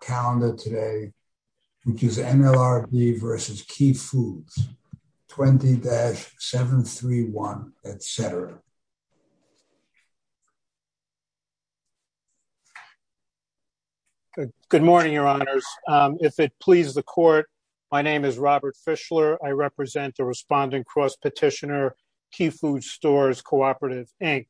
Good morning, Your Honors. If it pleases the Court, my name is Robert Fischler. I represent the responding cross-petitioner, Key Food Stores Co-Operative, Inc.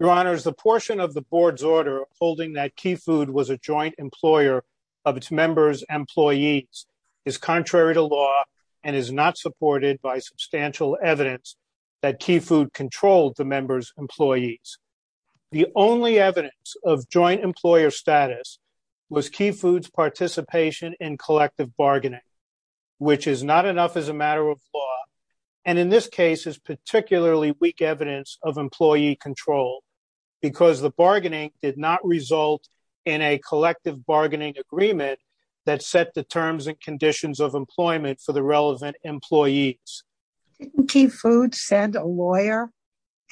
Your Honors, the portion of the Board's order holding that Key Food was a joint employer of its members' employees is contrary to law and is not supported by substantial evidence that Key Food controlled the members' employees. The only evidence of joint employer status was Key Food's participation in collective bargaining, which is not enough as a matter of law, and in this case is particularly weak evidence of employee control, because the bargaining did not result in a collective bargaining agreement that set the terms and conditions of employment for the relevant employees. Didn't Key Food send a lawyer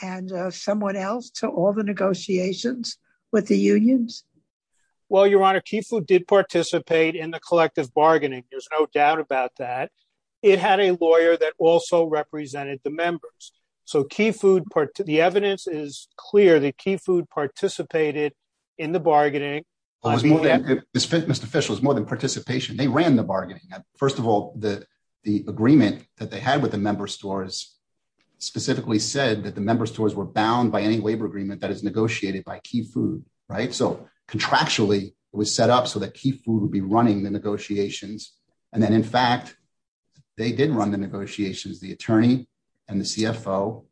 and someone else to all the negotiations with the unions? Well, Your Honor, Key Food did participate in the collective bargaining, there's no doubt about that. It had a lawyer that also represented the members. So Key Food, the evidence is clear that Key Food participated in the bargaining. It was more than, Mr. Fischler, it was more than participation, they ran the bargaining. First of all, the agreement that they had with the member stores specifically said that the member stores were bound by any labor agreement that is negotiated by Key Food, right? So contractually, it was set up so that Key Food would be running the negotiations, and in fact, they did run the negotiations, the attorney and the CFO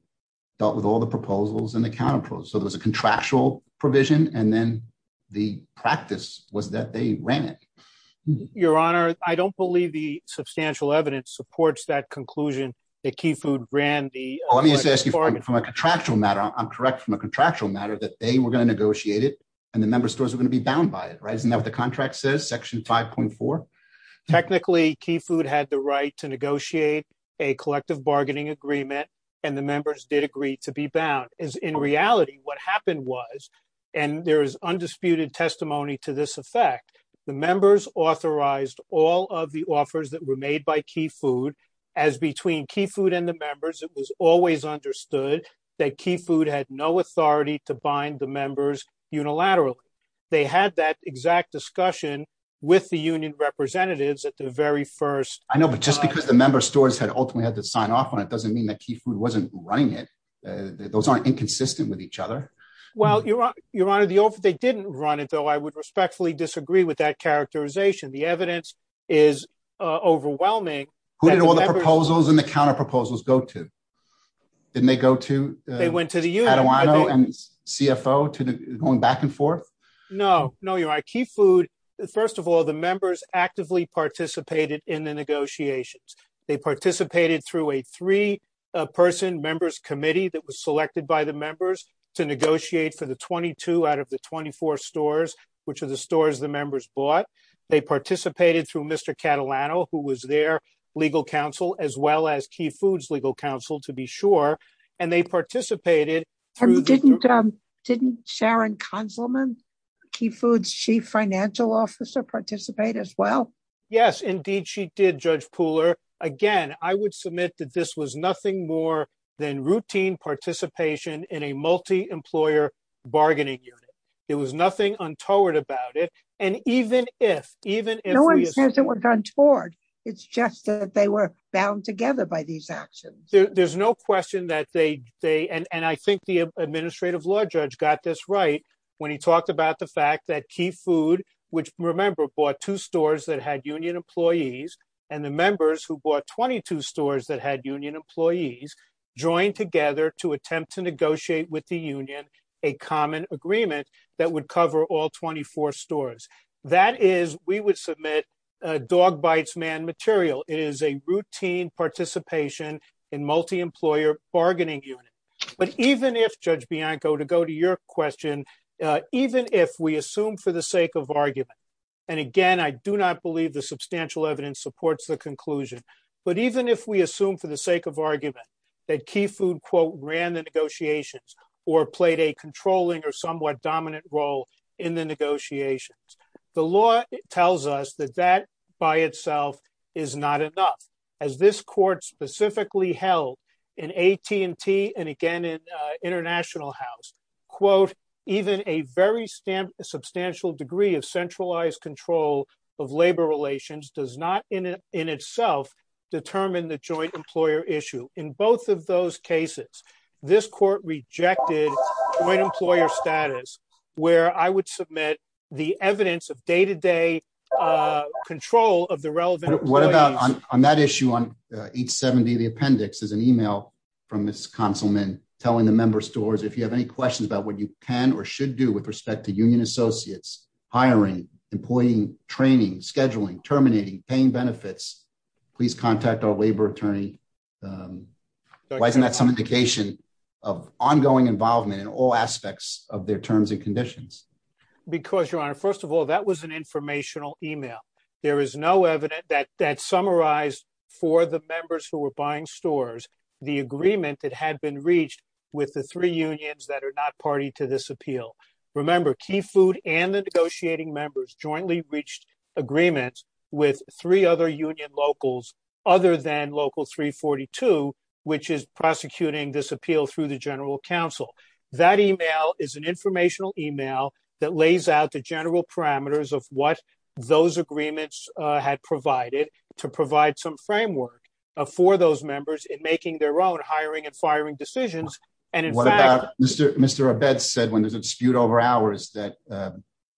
dealt with all the proposals and the counterproposals. So there was a contractual provision, and then the practice was that they ran it. Your Honor, I don't believe the substantial evidence supports that conclusion that Key Food ran the collective bargaining. Well, let me just ask you, from a contractual matter, I'm correct from a contractual matter that they were going to negotiate it, and the member stores are going to be bound by it, right? Isn't that what the contract says, section 5.4? Technically, Key Food had the right to negotiate a collective bargaining agreement, and the members did agree to be bound, as in reality, what happened was, and there is undisputed testimony to this effect, the members authorized all of the offers that were made by Key Food, as between Key Food and the members, it was always understood that Key Food had no authority to bind the members unilaterally. They had that exact discussion with the union representatives at the very first- I know, but just because the member stores had ultimately had to sign off on it doesn't mean that Key Food wasn't running it. Those aren't inconsistent with each other. Well, Your Honor, they didn't run it, though I would respectfully disagree with that characterization. The evidence is overwhelming. Who did all the proposals and the counterproposals go to? Didn't they go to- They went to the union. Did they go to Mr. Catalano and CFO, going back and forth? No. No, Your Honor. Key Food, first of all, the members actively participated in the negotiations. They participated through a three-person members committee that was selected by the members to negotiate for the 22 out of the 24 stores, which are the stores the members bought. They participated through Mr. Catalano, who was their legal counsel, as well as Key Food's legal counsel, to be sure. And they participated through- Didn't Sharon Kanselman, Key Food's chief financial officer, participate as well? Yes, indeed, she did, Judge Pooler. Again, I would submit that this was nothing more than routine participation in a multi-employer bargaining unit. It was nothing untoward about it. And even if- No one says it was untoward. It's just that they were bound together by these actions. There's no question that they- And I think the administrative law judge got this right when he talked about the fact that Key Food, which, remember, bought two stores that had union employees, and the members who bought 22 stores that had union employees, joined together to attempt to negotiate with the union a common agreement that would cover all 24 stores. That is, we would submit dog bites man material. It is a routine participation in multi-employer bargaining unit. But even if, Judge Bianco, to go to your question, even if we assume for the sake of argument, and again, I do not believe the substantial evidence supports the conclusion, but even if we assume for the sake of argument that Key Food, quote, ran the negotiations or played a controlling or somewhat dominant role in the negotiations, the law tells us that that by itself is not enough. As this court specifically held in AT&T and again in International House, quote, even a very substantial degree of centralized control of labor relations does not in itself determine the joint employer issue. In both of those cases, this court rejected joint employer status where I would submit the evidence of day-to-day control of the relevant employees. What about on that issue on 870, the appendix is an email from Ms. Conselman telling the member stores, if you have any questions about what you can or should do with respect to union associates, hiring, employing, training, scheduling, terminating, paying benefits, please contact our labor attorney. Why isn't that some indication of ongoing involvement in all aspects of their terms and conditions? Because, Your Honor, first of all, that was an informational email. There is no evidence that summarized for the members who were buying stores the agreement that had been reached with the three unions that are not party to this appeal. Remember, Key Food and the negotiating members jointly reached agreements with three other union locals other than local 342, which is prosecuting this appeal through the General Counsel. That email is an informational email that lays out the general parameters of what those agreements had provided to provide some framework for those members in making their own hiring and firing decisions. And in fact— What about Mr. Abetz said when there's a dispute over hours that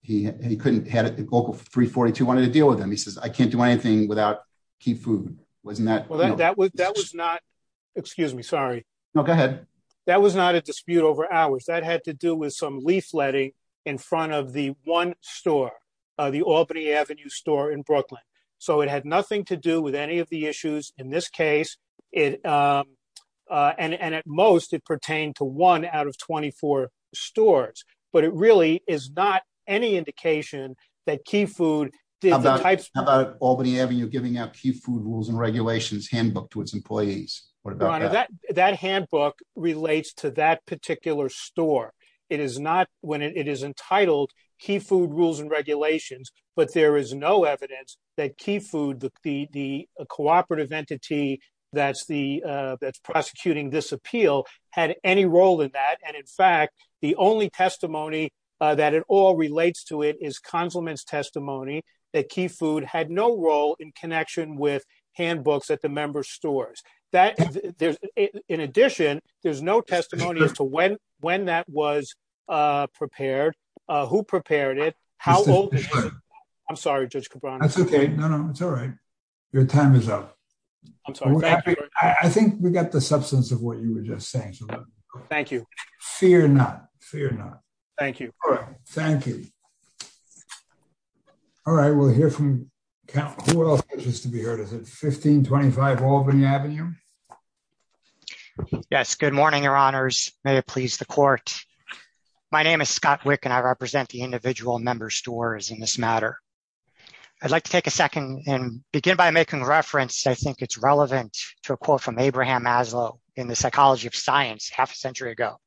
he couldn't—local 342 wanted to deal with him. I can't do anything without Key Food. Wasn't that— Well, that was not—excuse me, sorry. No, go ahead. That was not a dispute over hours. That had to do with some leafletting in front of the one store, the Albany Avenue store in Brooklyn. So it had nothing to do with any of the issues in this case. And at most, it pertained to one out of 24 stores. But it really is not any indication that Key Food— How about Albany Avenue giving out Key Food rules and regulations handbook to its employees? What about that? That handbook relates to that particular store. It is not when it is entitled Key Food rules and regulations, but there is no evidence that Key Food, the cooperative entity that's prosecuting this appeal, had any role in that. And in fact, the only testimony that it all relates to it is Consulman's testimony that Key Food had no role in connection with handbooks at the members' stores. In addition, there's no testimony as to when that was prepared, who prepared it, how old it was. I'm sorry, Judge Cabrera. That's OK. No, no, it's all right. Your time is up. I think we got the substance of what you were just saying. Thank you. Fear not. Fear not. Thank you. All right. Thank you. All right. We'll hear from—who else is to be heard? Is it 1525 Albany Avenue? Yes. Good morning, Your Honors. May it please the Court. My name is Scott Wick, and I represent the individual members' stores in this matter. I'd like to take a second and begin by making a reference. I think it's relevant to a quote from Abraham Maslow in The Psychology of Science, half a century ago.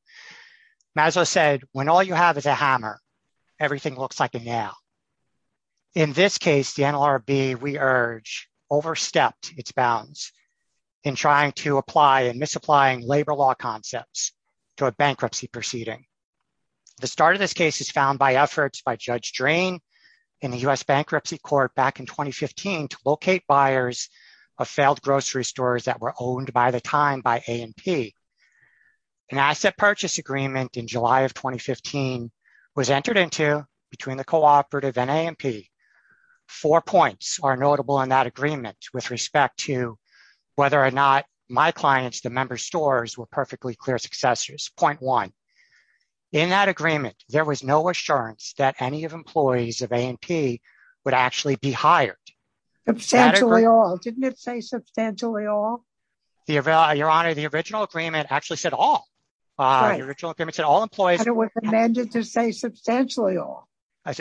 Maslow said, when all you have is a hammer, everything looks like a nail. In this case, the NLRB, we urge, overstepped its bounds in trying to apply and misapplying labor law concepts to a bankruptcy proceeding. The start of this case is found by efforts by Judge Drain in the U.S. Bankruptcy Court back in 2015 to locate buyers of failed grocery stores that were owned by the time by A&P. An asset purchase agreement in July of 2015 was entered into between the cooperative and A&P. Four points are notable in that agreement with respect to whether or not my clients, the members' stores, were perfectly clear successors. Point one. In that agreement, there was no assurance that any of employees of A&P would actually be hired. Substantially all. Didn't it say substantially all? Your Honor, the original agreement actually said all. The original agreement said all employees. And it was amended to say substantially all.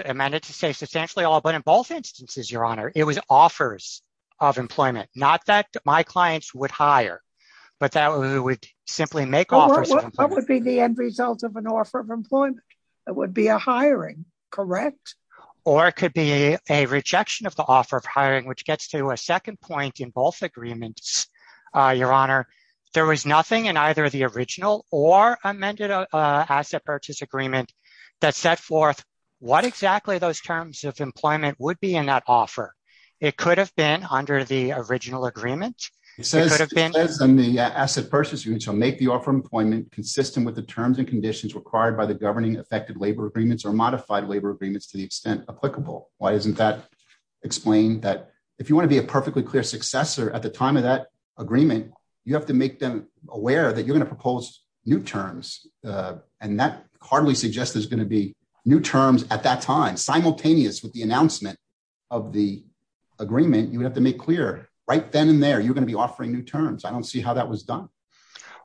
Amended to say substantially all. But in both instances, Your Honor, it was offers of employment. Not that my clients would hire, but that we would simply make offers. What would be the end result of an offer of employment? It would be a hiring, correct? Or it could be a rejection of the offer of hiring, which gets to a second point in both agreements, Your Honor. There was nothing in either the original or amended asset purchase agreement that set forth what exactly those terms of employment would be in that offer. It could have been under the original agreement. It says in the asset purchase agreement, shall make the offer of employment consistent with the terms and conditions required by the governing effective labor agreements or modified labor agreements to the extent applicable. Why isn't that explained? That if you want to be a perfectly clear successor at the time of that agreement, you have to make them aware that you're going to propose new terms. And that hardly suggests there's going to be new terms at that time, simultaneous with the announcement of the agreement. You would have to make clear right then and there, you're going to be offering new terms. I don't see how that was done.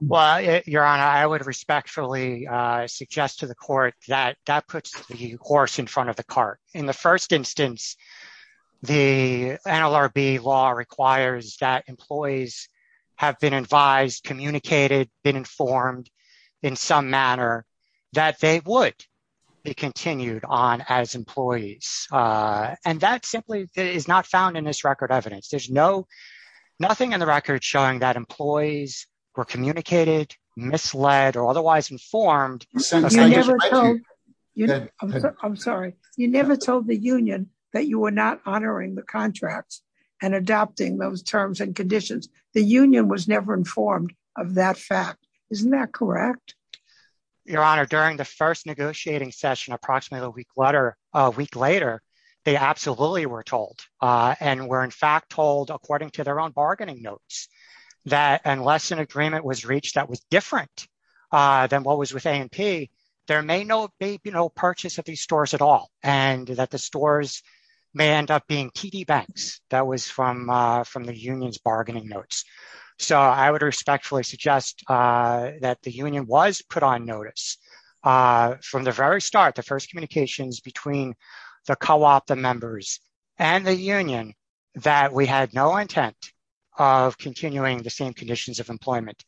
Well, Your Honor, I would respectfully suggest to the court that that puts the horse in front of the cart. In the first instance, the NLRB law requires that employees have been advised, communicated, been informed in some manner that they would be continued on as employees. And that simply is not found in this record evidence. There's nothing in the record showing that employees were communicated, misled or otherwise informed. You never told the union that you were not honoring the contracts and adopting those terms and conditions. The union was never informed of that fact. Isn't that correct? Your Honor, during the first negotiating session, approximately a week later, they absolutely were told and were in fact told according to their own bargaining notes, that unless an agreement was reached that was different than what was with A&P, there may be no purchase of these stores at all. And that the stores may end up being TD Banks. That was from the union's bargaining notes. So I would respectfully suggest that the union was put on notice from the very start, the first communications between the co-op, the members and the union, that we had no intent of continuing the same conditions of employment.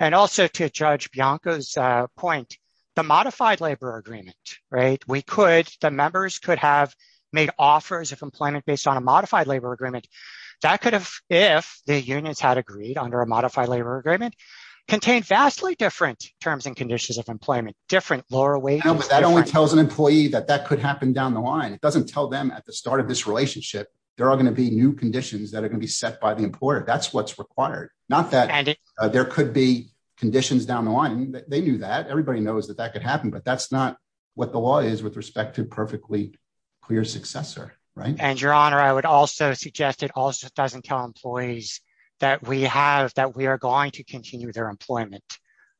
And also to Judge Bianco's point, the modified labor agreement, right? We could, the members could have made offers of employment based on a modified labor agreement. That could have, if the unions had agreed under a modified labor agreement, contained vastly different terms and conditions of employment, different lower wages. No, but that only tells an employee that that could happen down the line. It doesn't tell them at the start of this relationship, there are going to be new conditions that are going to be set by the employer. That's what's required. Not that there could be conditions down the line. They knew that. Everybody knows that that could happen, but that's not what the law is with respect to perfectly clear successor, right? And your honor, I would also suggest it also doesn't tell employees that we have, that we are going to continue their employment.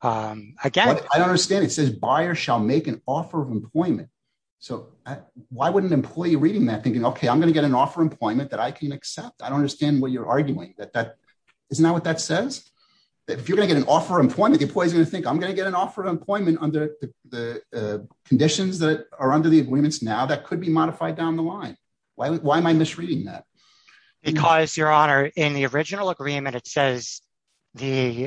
Again, I don't understand. It says buyer shall make an offer of employment. So why wouldn't an employee reading that thinking, okay, I'm going to get an offer employment that I can accept. I don't understand what you're arguing. Isn't that what that says? If you're going to get an offer of employment, the employee is going to think, I'm going to get an offer of employment under the conditions that are under the agreements now that could be modified down the line. Why am I misreading that? Because your honor, in the original agreement, it says the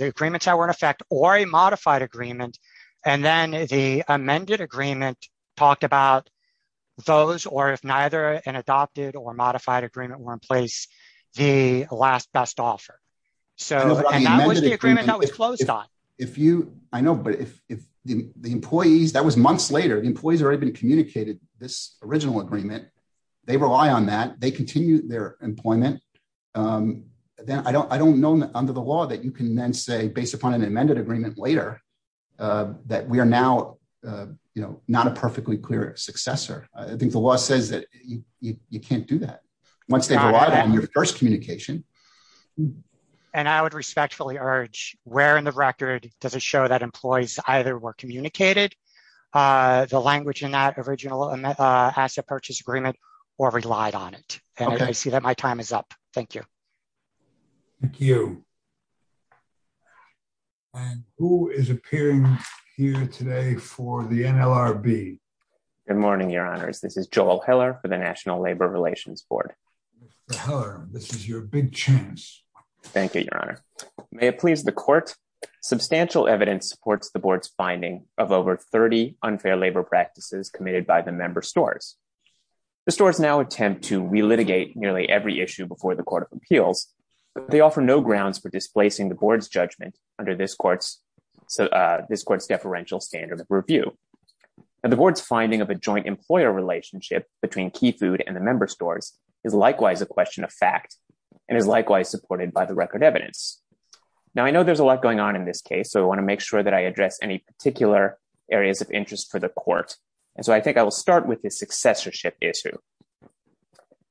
agreements that were in effect or a modified agreement. And then the amended agreement talked about those or if neither an adopted or modified agreement were in place, the last best offer. So, and that was the agreement that was closed on. If you, I know, but if the employees, that was months later, the employees already been communicated this original agreement. They rely on that. They continue their employment. Then I don't know under the law that you can then say based upon an amended agreement later that we are now, you know, not a perfectly clear successor. I think the law says that you can't do that once they've arrived on your first communication. And I would respectfully urge where in the record does it show that employees either were communicated the language in that original asset purchase agreement or relied on it? And I see that my time is up. Thank you. Thank you. And who is appearing here today for the NLRB? Good morning, your honors. This is Joel Heller for the National Labor Relations Board. This is your big chance. Thank you, your honor. May it please the court. Substantial evidence supports the board's finding of over 30 unfair labor practices committed by the member stores. The stores now attempt to relitigate nearly every issue before the court of appeals, but they offer no grounds for displacing the board's judgment under this court's deferential standard of review. And the board's finding of a joint employer relationship between Keyfood and the member stores is likewise a question of fact and is likewise supported by the record evidence. Now, I know there's a lot going on in this case. So I want to make sure that I address any particular areas of interest for the court. And so I think I will start with the successorship issue.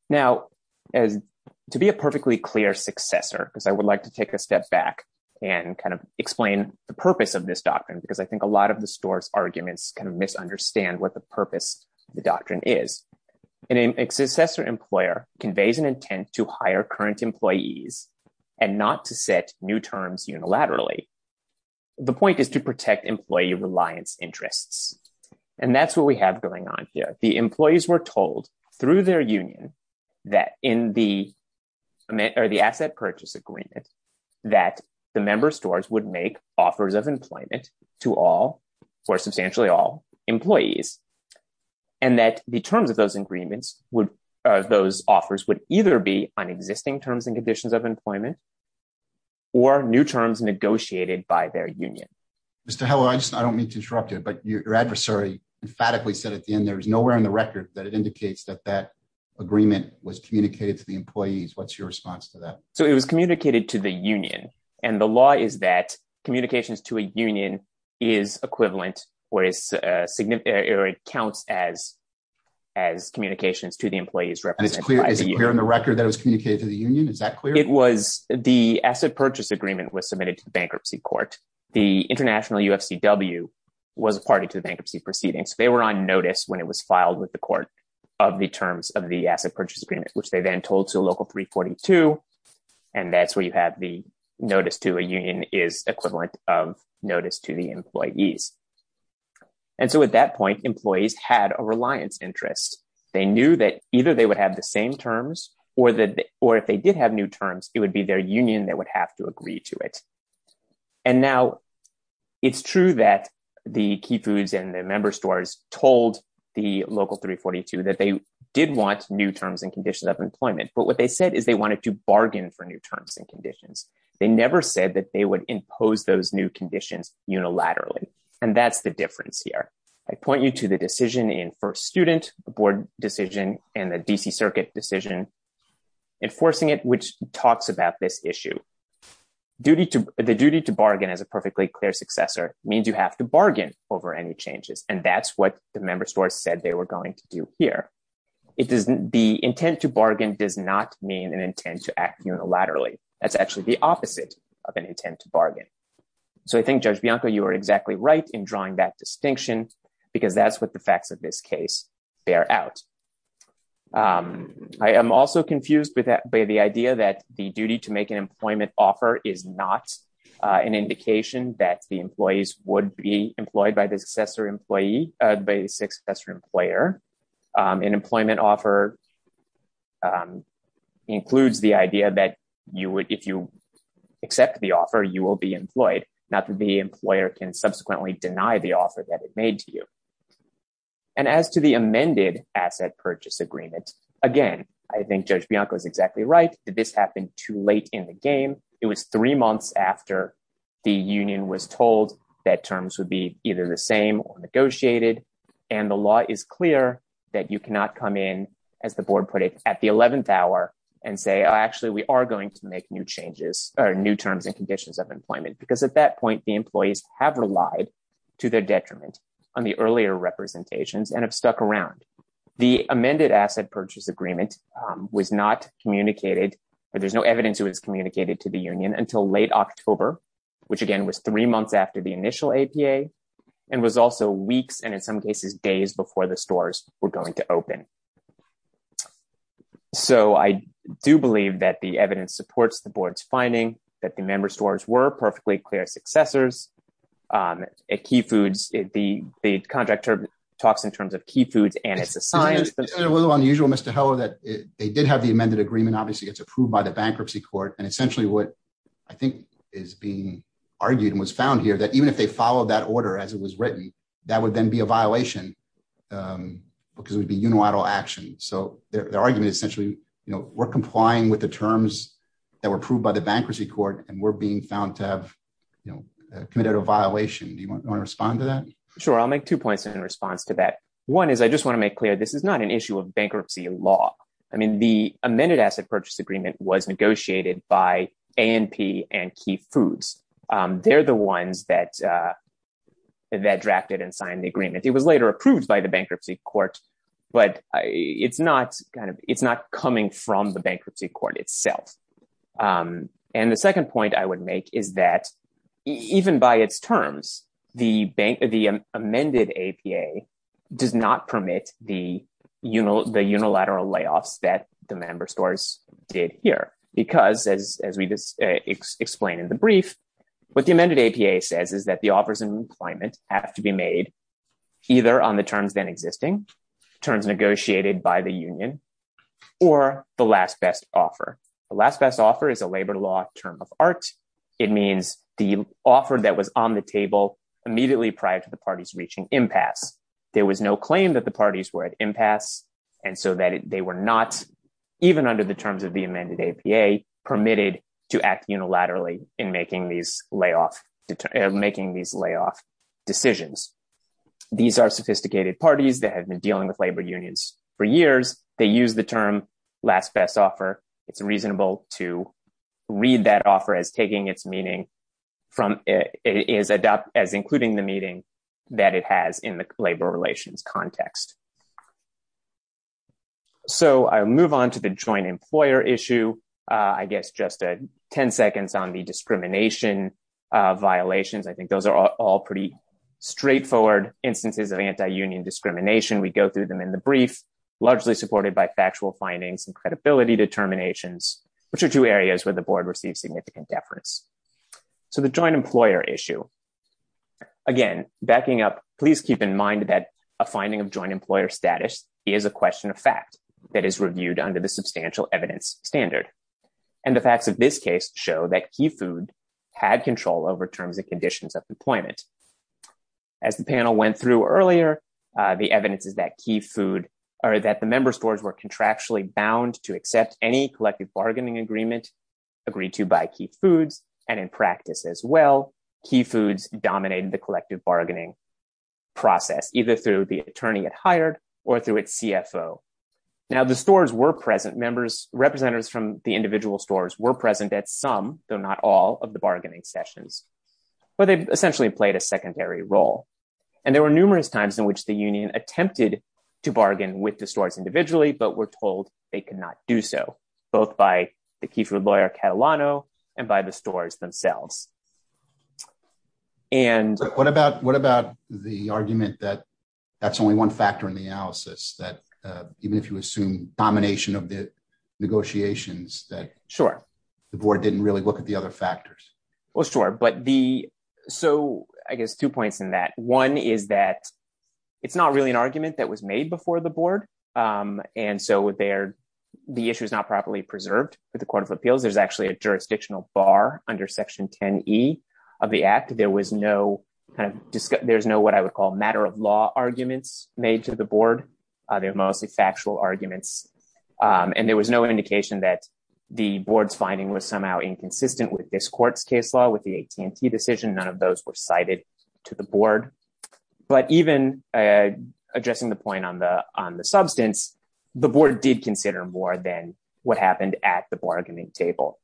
Now, to be a perfectly clear successor, because I would like to take a step back and kind of explain the purpose of this doctrine, because I think a lot of the store's arguments kind of misunderstand what the purpose of the doctrine is. And a successor employer conveys an intent to hire current employees and not to set new terms unilaterally. The point is to protect employee reliance interests. And that's what we have going on here. The employees were told through their union that in the asset purchase agreement that the member stores would make offers of employment for substantially all employees. And that the terms of those agreements, those offers would either be on existing terms and conditions of employment or new terms negotiated by their union. Mr. Heller, I don't mean to interrupt you, but your adversary emphatically said at the end, there was nowhere in the record that it indicates that that agreement was communicated to the employees. What's your response to that? So it was communicated to the union. And the law is that communications to a union is equivalent or it counts as communications to the employees represented by the union. Is it clear in the record that it was communicated to the union? Is that clear? It was, the asset purchase agreement was submitted to the bankruptcy court. The International UFCW was a party to the bankruptcy proceedings. They were on notice when it was filed with the court of the terms of the asset purchase agreement, which they then told to a local 342. And that's where you have the notice to a union is equivalent of notice to the employees. And so at that point, employees had a reliance interest. They knew that either they would have the same terms or if they did have new terms, it would be their union that would have to agree to it. And now it's true that the Key Foods and the member stores told the local 342 that they did want new terms and conditions of employment. But what they said is they wanted to bargain for new terms and conditions. They never said that they would impose those new conditions unilaterally. And that's the difference here. I point you to the decision in first student board decision and the DC circuit decision enforcing it, which talks about this issue. The duty to bargain as a perfectly clear successor means you have to bargain over any changes. And that's what the member stores said they were going to do here. The intent to bargain does not mean an intent to act unilaterally. That's actually the opposite of an intent to bargain. So I think Judge Bianco, you are exactly right in drawing that distinction because that's what the facts of this case bear out. I am also confused by the idea that the duty to make an employment offer is not an indication that the employees would be employed by the successor employee, by the successor employer. An employment offer includes the idea that if you accept the offer, you will be employed. Not that the employer can subsequently deny the offer that it made to you. And as to the amended asset purchase agreement, again, I think Judge Bianco is exactly right that this happened too late in the game. It was three months after the union was told that terms would be either the same or negotiated. And the law is clear that you cannot come in as the board put it at the 11th hour and say, actually we are going to make new changes or new terms and conditions of employment. Because at that point, the employees have relied to their detriment on the earlier representations and have stuck around. The amended asset purchase agreement was not communicated or there's no evidence it was communicated to the union until late October, which again was three months after the initial APA and was also weeks. And in some cases, days before the stores were going to open. So I do believe that the evidence supports the board's finding that the member stores were perfectly clear successors. At Key Foods, the contractor talks in terms of Key Foods and it's a science- It's a little unusual, Mr. Heller, that they did have the amended agreement. Obviously it's approved by the bankruptcy court. And essentially what I think is being argued and was found here that even if they followed that order as it was written, that would then be a violation because it would be unilateral action. So their argument is essentially, we're complying with the terms that were approved by the bankruptcy court and we're being found to have committed a violation. Do you want to respond to that? Sure, I'll make two points in response to that. One is I just want to make clear, this is not an issue of bankruptcy law. I mean, the amended asset purchase agreement was negotiated by ANP and Key Foods. They're the ones that drafted and signed the agreement. It was later approved by the bankruptcy court, but it's not coming from the bankruptcy court itself. And the second point I would make is that even by its terms, the amended APA does not permit the unilateral layoffs that the member stores did here because as we just explained in the brief, what the amended APA says is that the offers in employment have to be made either on the terms then existing terms negotiated by the union or the last best offer. The last best offer is a labor law term of art. It means the offer that was on the table immediately prior to the parties reaching impasse. There was no claim that the parties were at impasse and so that they were not, even under the terms of the amended APA, permitted to act unilaterally in making these layoff decisions. These are sophisticated parties that have been dealing with labor unions for years. They use the term last best offer. It's reasonable to read that offer as taking its meaning from, as including the meeting that it has in the labor relations context. So I'll move on to the joint employer issue. I guess just 10 seconds on the discrimination violations. I think those are all pretty straightforward instances of anti-union discrimination. We go through them in the brief, largely supported by factual findings and credibility determinations, which are two areas where the board receives significant deference. So the joint employer issue, again, backing up, please keep in mind that a finding of joint employer status is a question of fact that is reviewed under the substantial evidence standard. And the facts of this case show that Key Food had control over terms and conditions of employment. As the panel went through earlier, the evidence is that Key Food, or that the member stores were contractually bound to accept any collective bargaining agreement agreed to by Key Foods. And in practice as well, Key Foods dominated the collective bargaining process, either through the attorney it hired or through its CFO. Now the stores were present. Members, representatives from the individual stores were present at some, though not all of the bargaining sessions. But they essentially played a secondary role. And there were numerous times in which the union attempted to bargain with the stores individually, but were told they could not do so, both by the Key Food lawyer Catalano and by the stores themselves. And- What about the argument that that's only one factor in the analysis that even if you assume domination of the negotiations that- Sure. The board didn't really look at the other factors. Well, sure. So I guess two points in that. One is that it's not really an argument that was made before the board. And so the issue is not properly preserved with the Court of Appeals. There's actually a jurisdictional bar under section 10E of the act. There's no what I would call matter of law arguments made to the board. They're mostly factual arguments. And there was no indication that the board's finding was somehow inconsistent with this court's case law with the AT&T decision. None of those were cited to the board. But even addressing the point on the substance, the board did consider more than what happened at the bargaining table.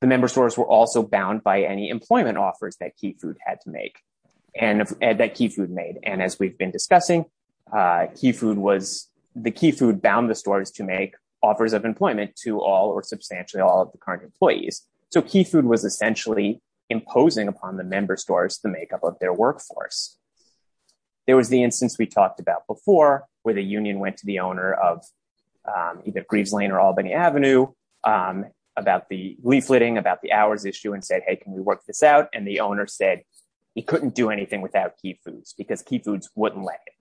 The member stores were also bound by any employment offers that Key Food had to make and that Key Food made. And as we've been discussing, Key Food was- The Key Food bound the stores to make offers of employment to all or substantially all of the current employees. So Key Food was essentially imposing upon the member stores the makeup of their workforce. There was the instance we talked about before where the union went to the owner of either Greaves Lane or Albany Avenue about the leafleting, about the hours issue and said, hey, can we work this out? And the owner said, he couldn't do anything without Key Foods because Key Foods wouldn't let him.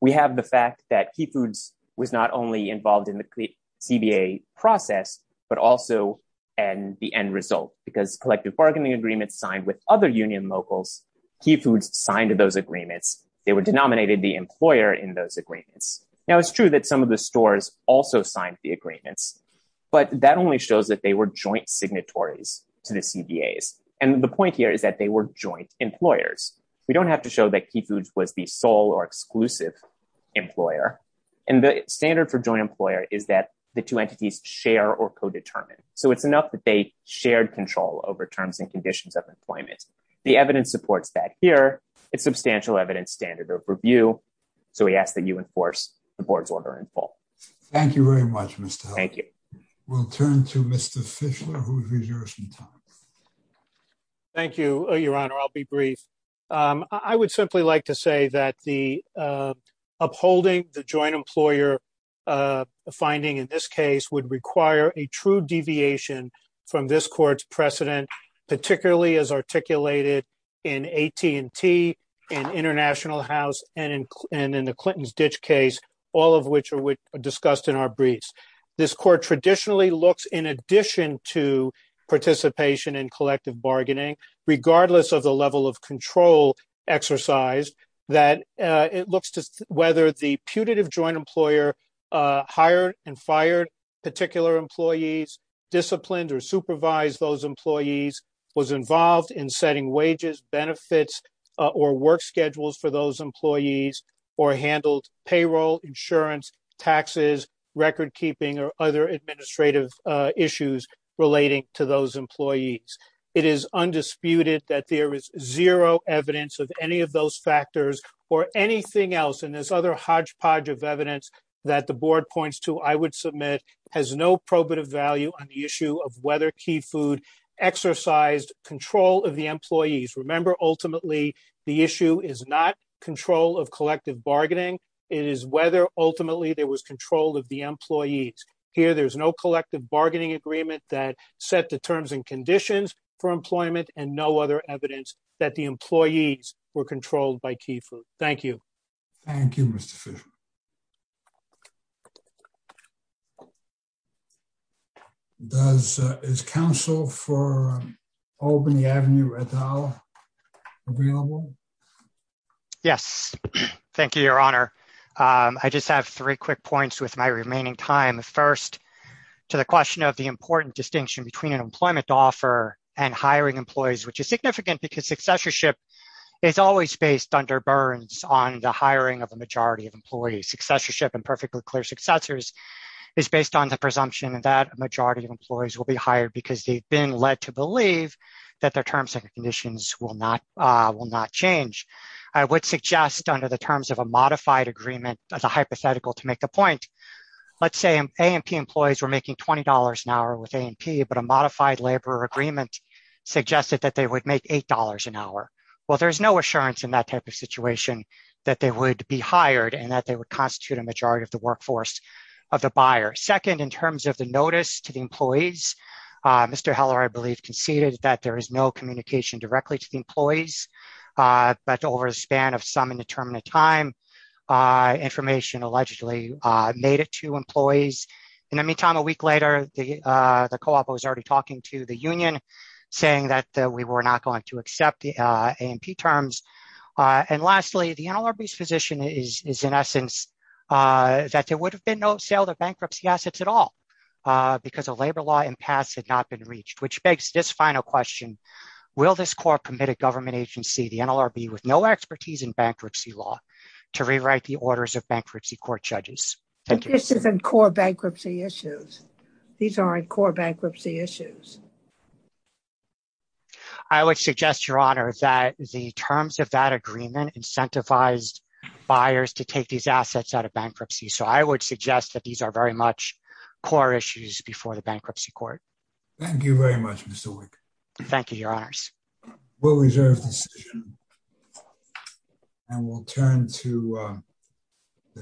We have the fact that Key Foods was not only involved in the CBA process, but also in the end result because collective bargaining agreements signed with other union locals, Key Foods signed those agreements. They were denominated the employer in those agreements. Now it's true that some of the stores also signed the agreements, but that only shows that they were joint signatories to the CBAs. And the point here is that they were joint employers. We don't have to show that Key Foods was the sole or exclusive employer. And the standard for joint employer is that the two entities share or co-determine. So it's enough that they shared control over terms and conditions of employment. The evidence supports that here. It's substantial evidence standard of review. So we ask that you enforce the board's order in full. Thank you very much, Mr. Helder. Thank you. We'll turn to Mr. Fischler who has reserved some time. Thank you, Your Honor. I'll be brief. I would simply like to say that upholding the joint employer finding in this case would require a true deviation from this court's precedent, particularly as articulated in AT&T and International House and in the Clinton's ditch case, all of which are discussed in our briefs. This court traditionally looks in addition to participation in collective bargaining, regardless of the level of control exercised that it looks to whether the putative joint employer hired and fired particular employees, disciplined or supervised those employees, was involved in setting wages, benefits, or work schedules for those employees or handled payroll, insurance, taxes, record keeping, or other administrative issues relating to those employees. It is undisputed that there is zero evidence of any of those factors or anything else. And there's other hodgepodge of evidence that the board points to, I would submit, has no probative value on the issue of whether key food exercised control of the employees. Remember, ultimately, the issue is not control of collective bargaining. It is whether ultimately there was control of the employees. Here, there's no collective bargaining agreement that set the terms and conditions for employment and no other evidence that the employees were controlled by key food. Thank you. Thank you, Mr. Fisher. Is counsel for Albany Avenue at all available? Yes. Thank you, your honor. I just have three quick points with my remaining time. First, to the question of the important distinction between an employment offer and hiring employees, which is significant because successorship is always based under burns on the hiring of a majority of employees. Successorship and perfectly clear successors is based on the presumption that a majority of employees will be hired because they've been led to believe that their terms and conditions will not change. I would suggest under the terms of a modified agreement as a hypothetical to make a point, let's say A&P employees were making $20 an hour with A&P, but a modified labor agreement suggested that they would make $8 an hour. Well, there's no assurance in that type of situation that they would be hired and that they would constitute a majority of the workforce of the buyer. Second, in terms of the notice to the employees, Mr. Heller, I believe conceded that there is no communication directly to the employees, but over the span of some indeterminate time, information allegedly made it to employees. In the meantime, a week later, the co-op was already talking to the union saying that we were not going to accept the A&P terms. And lastly, the NLRB's position is in essence that there would have been no sale of bankruptcy assets at all because a labor law in pass had not been reached, which begs this final question. Will this court commit a government agency, the NLRB with no expertise in bankruptcy law to rewrite the orders of bankruptcy court judges? This isn't core bankruptcy issues. These aren't core bankruptcy issues. I would suggest, Your Honor, that the terms of that agreement incentivized buyers to take these assets out of bankruptcy. So I would suggest that these are very much core issues before the bankruptcy court. Thank you very much, Mr. Wick. Thank you, Your Honors. We'll reserve the decision and we'll turn to the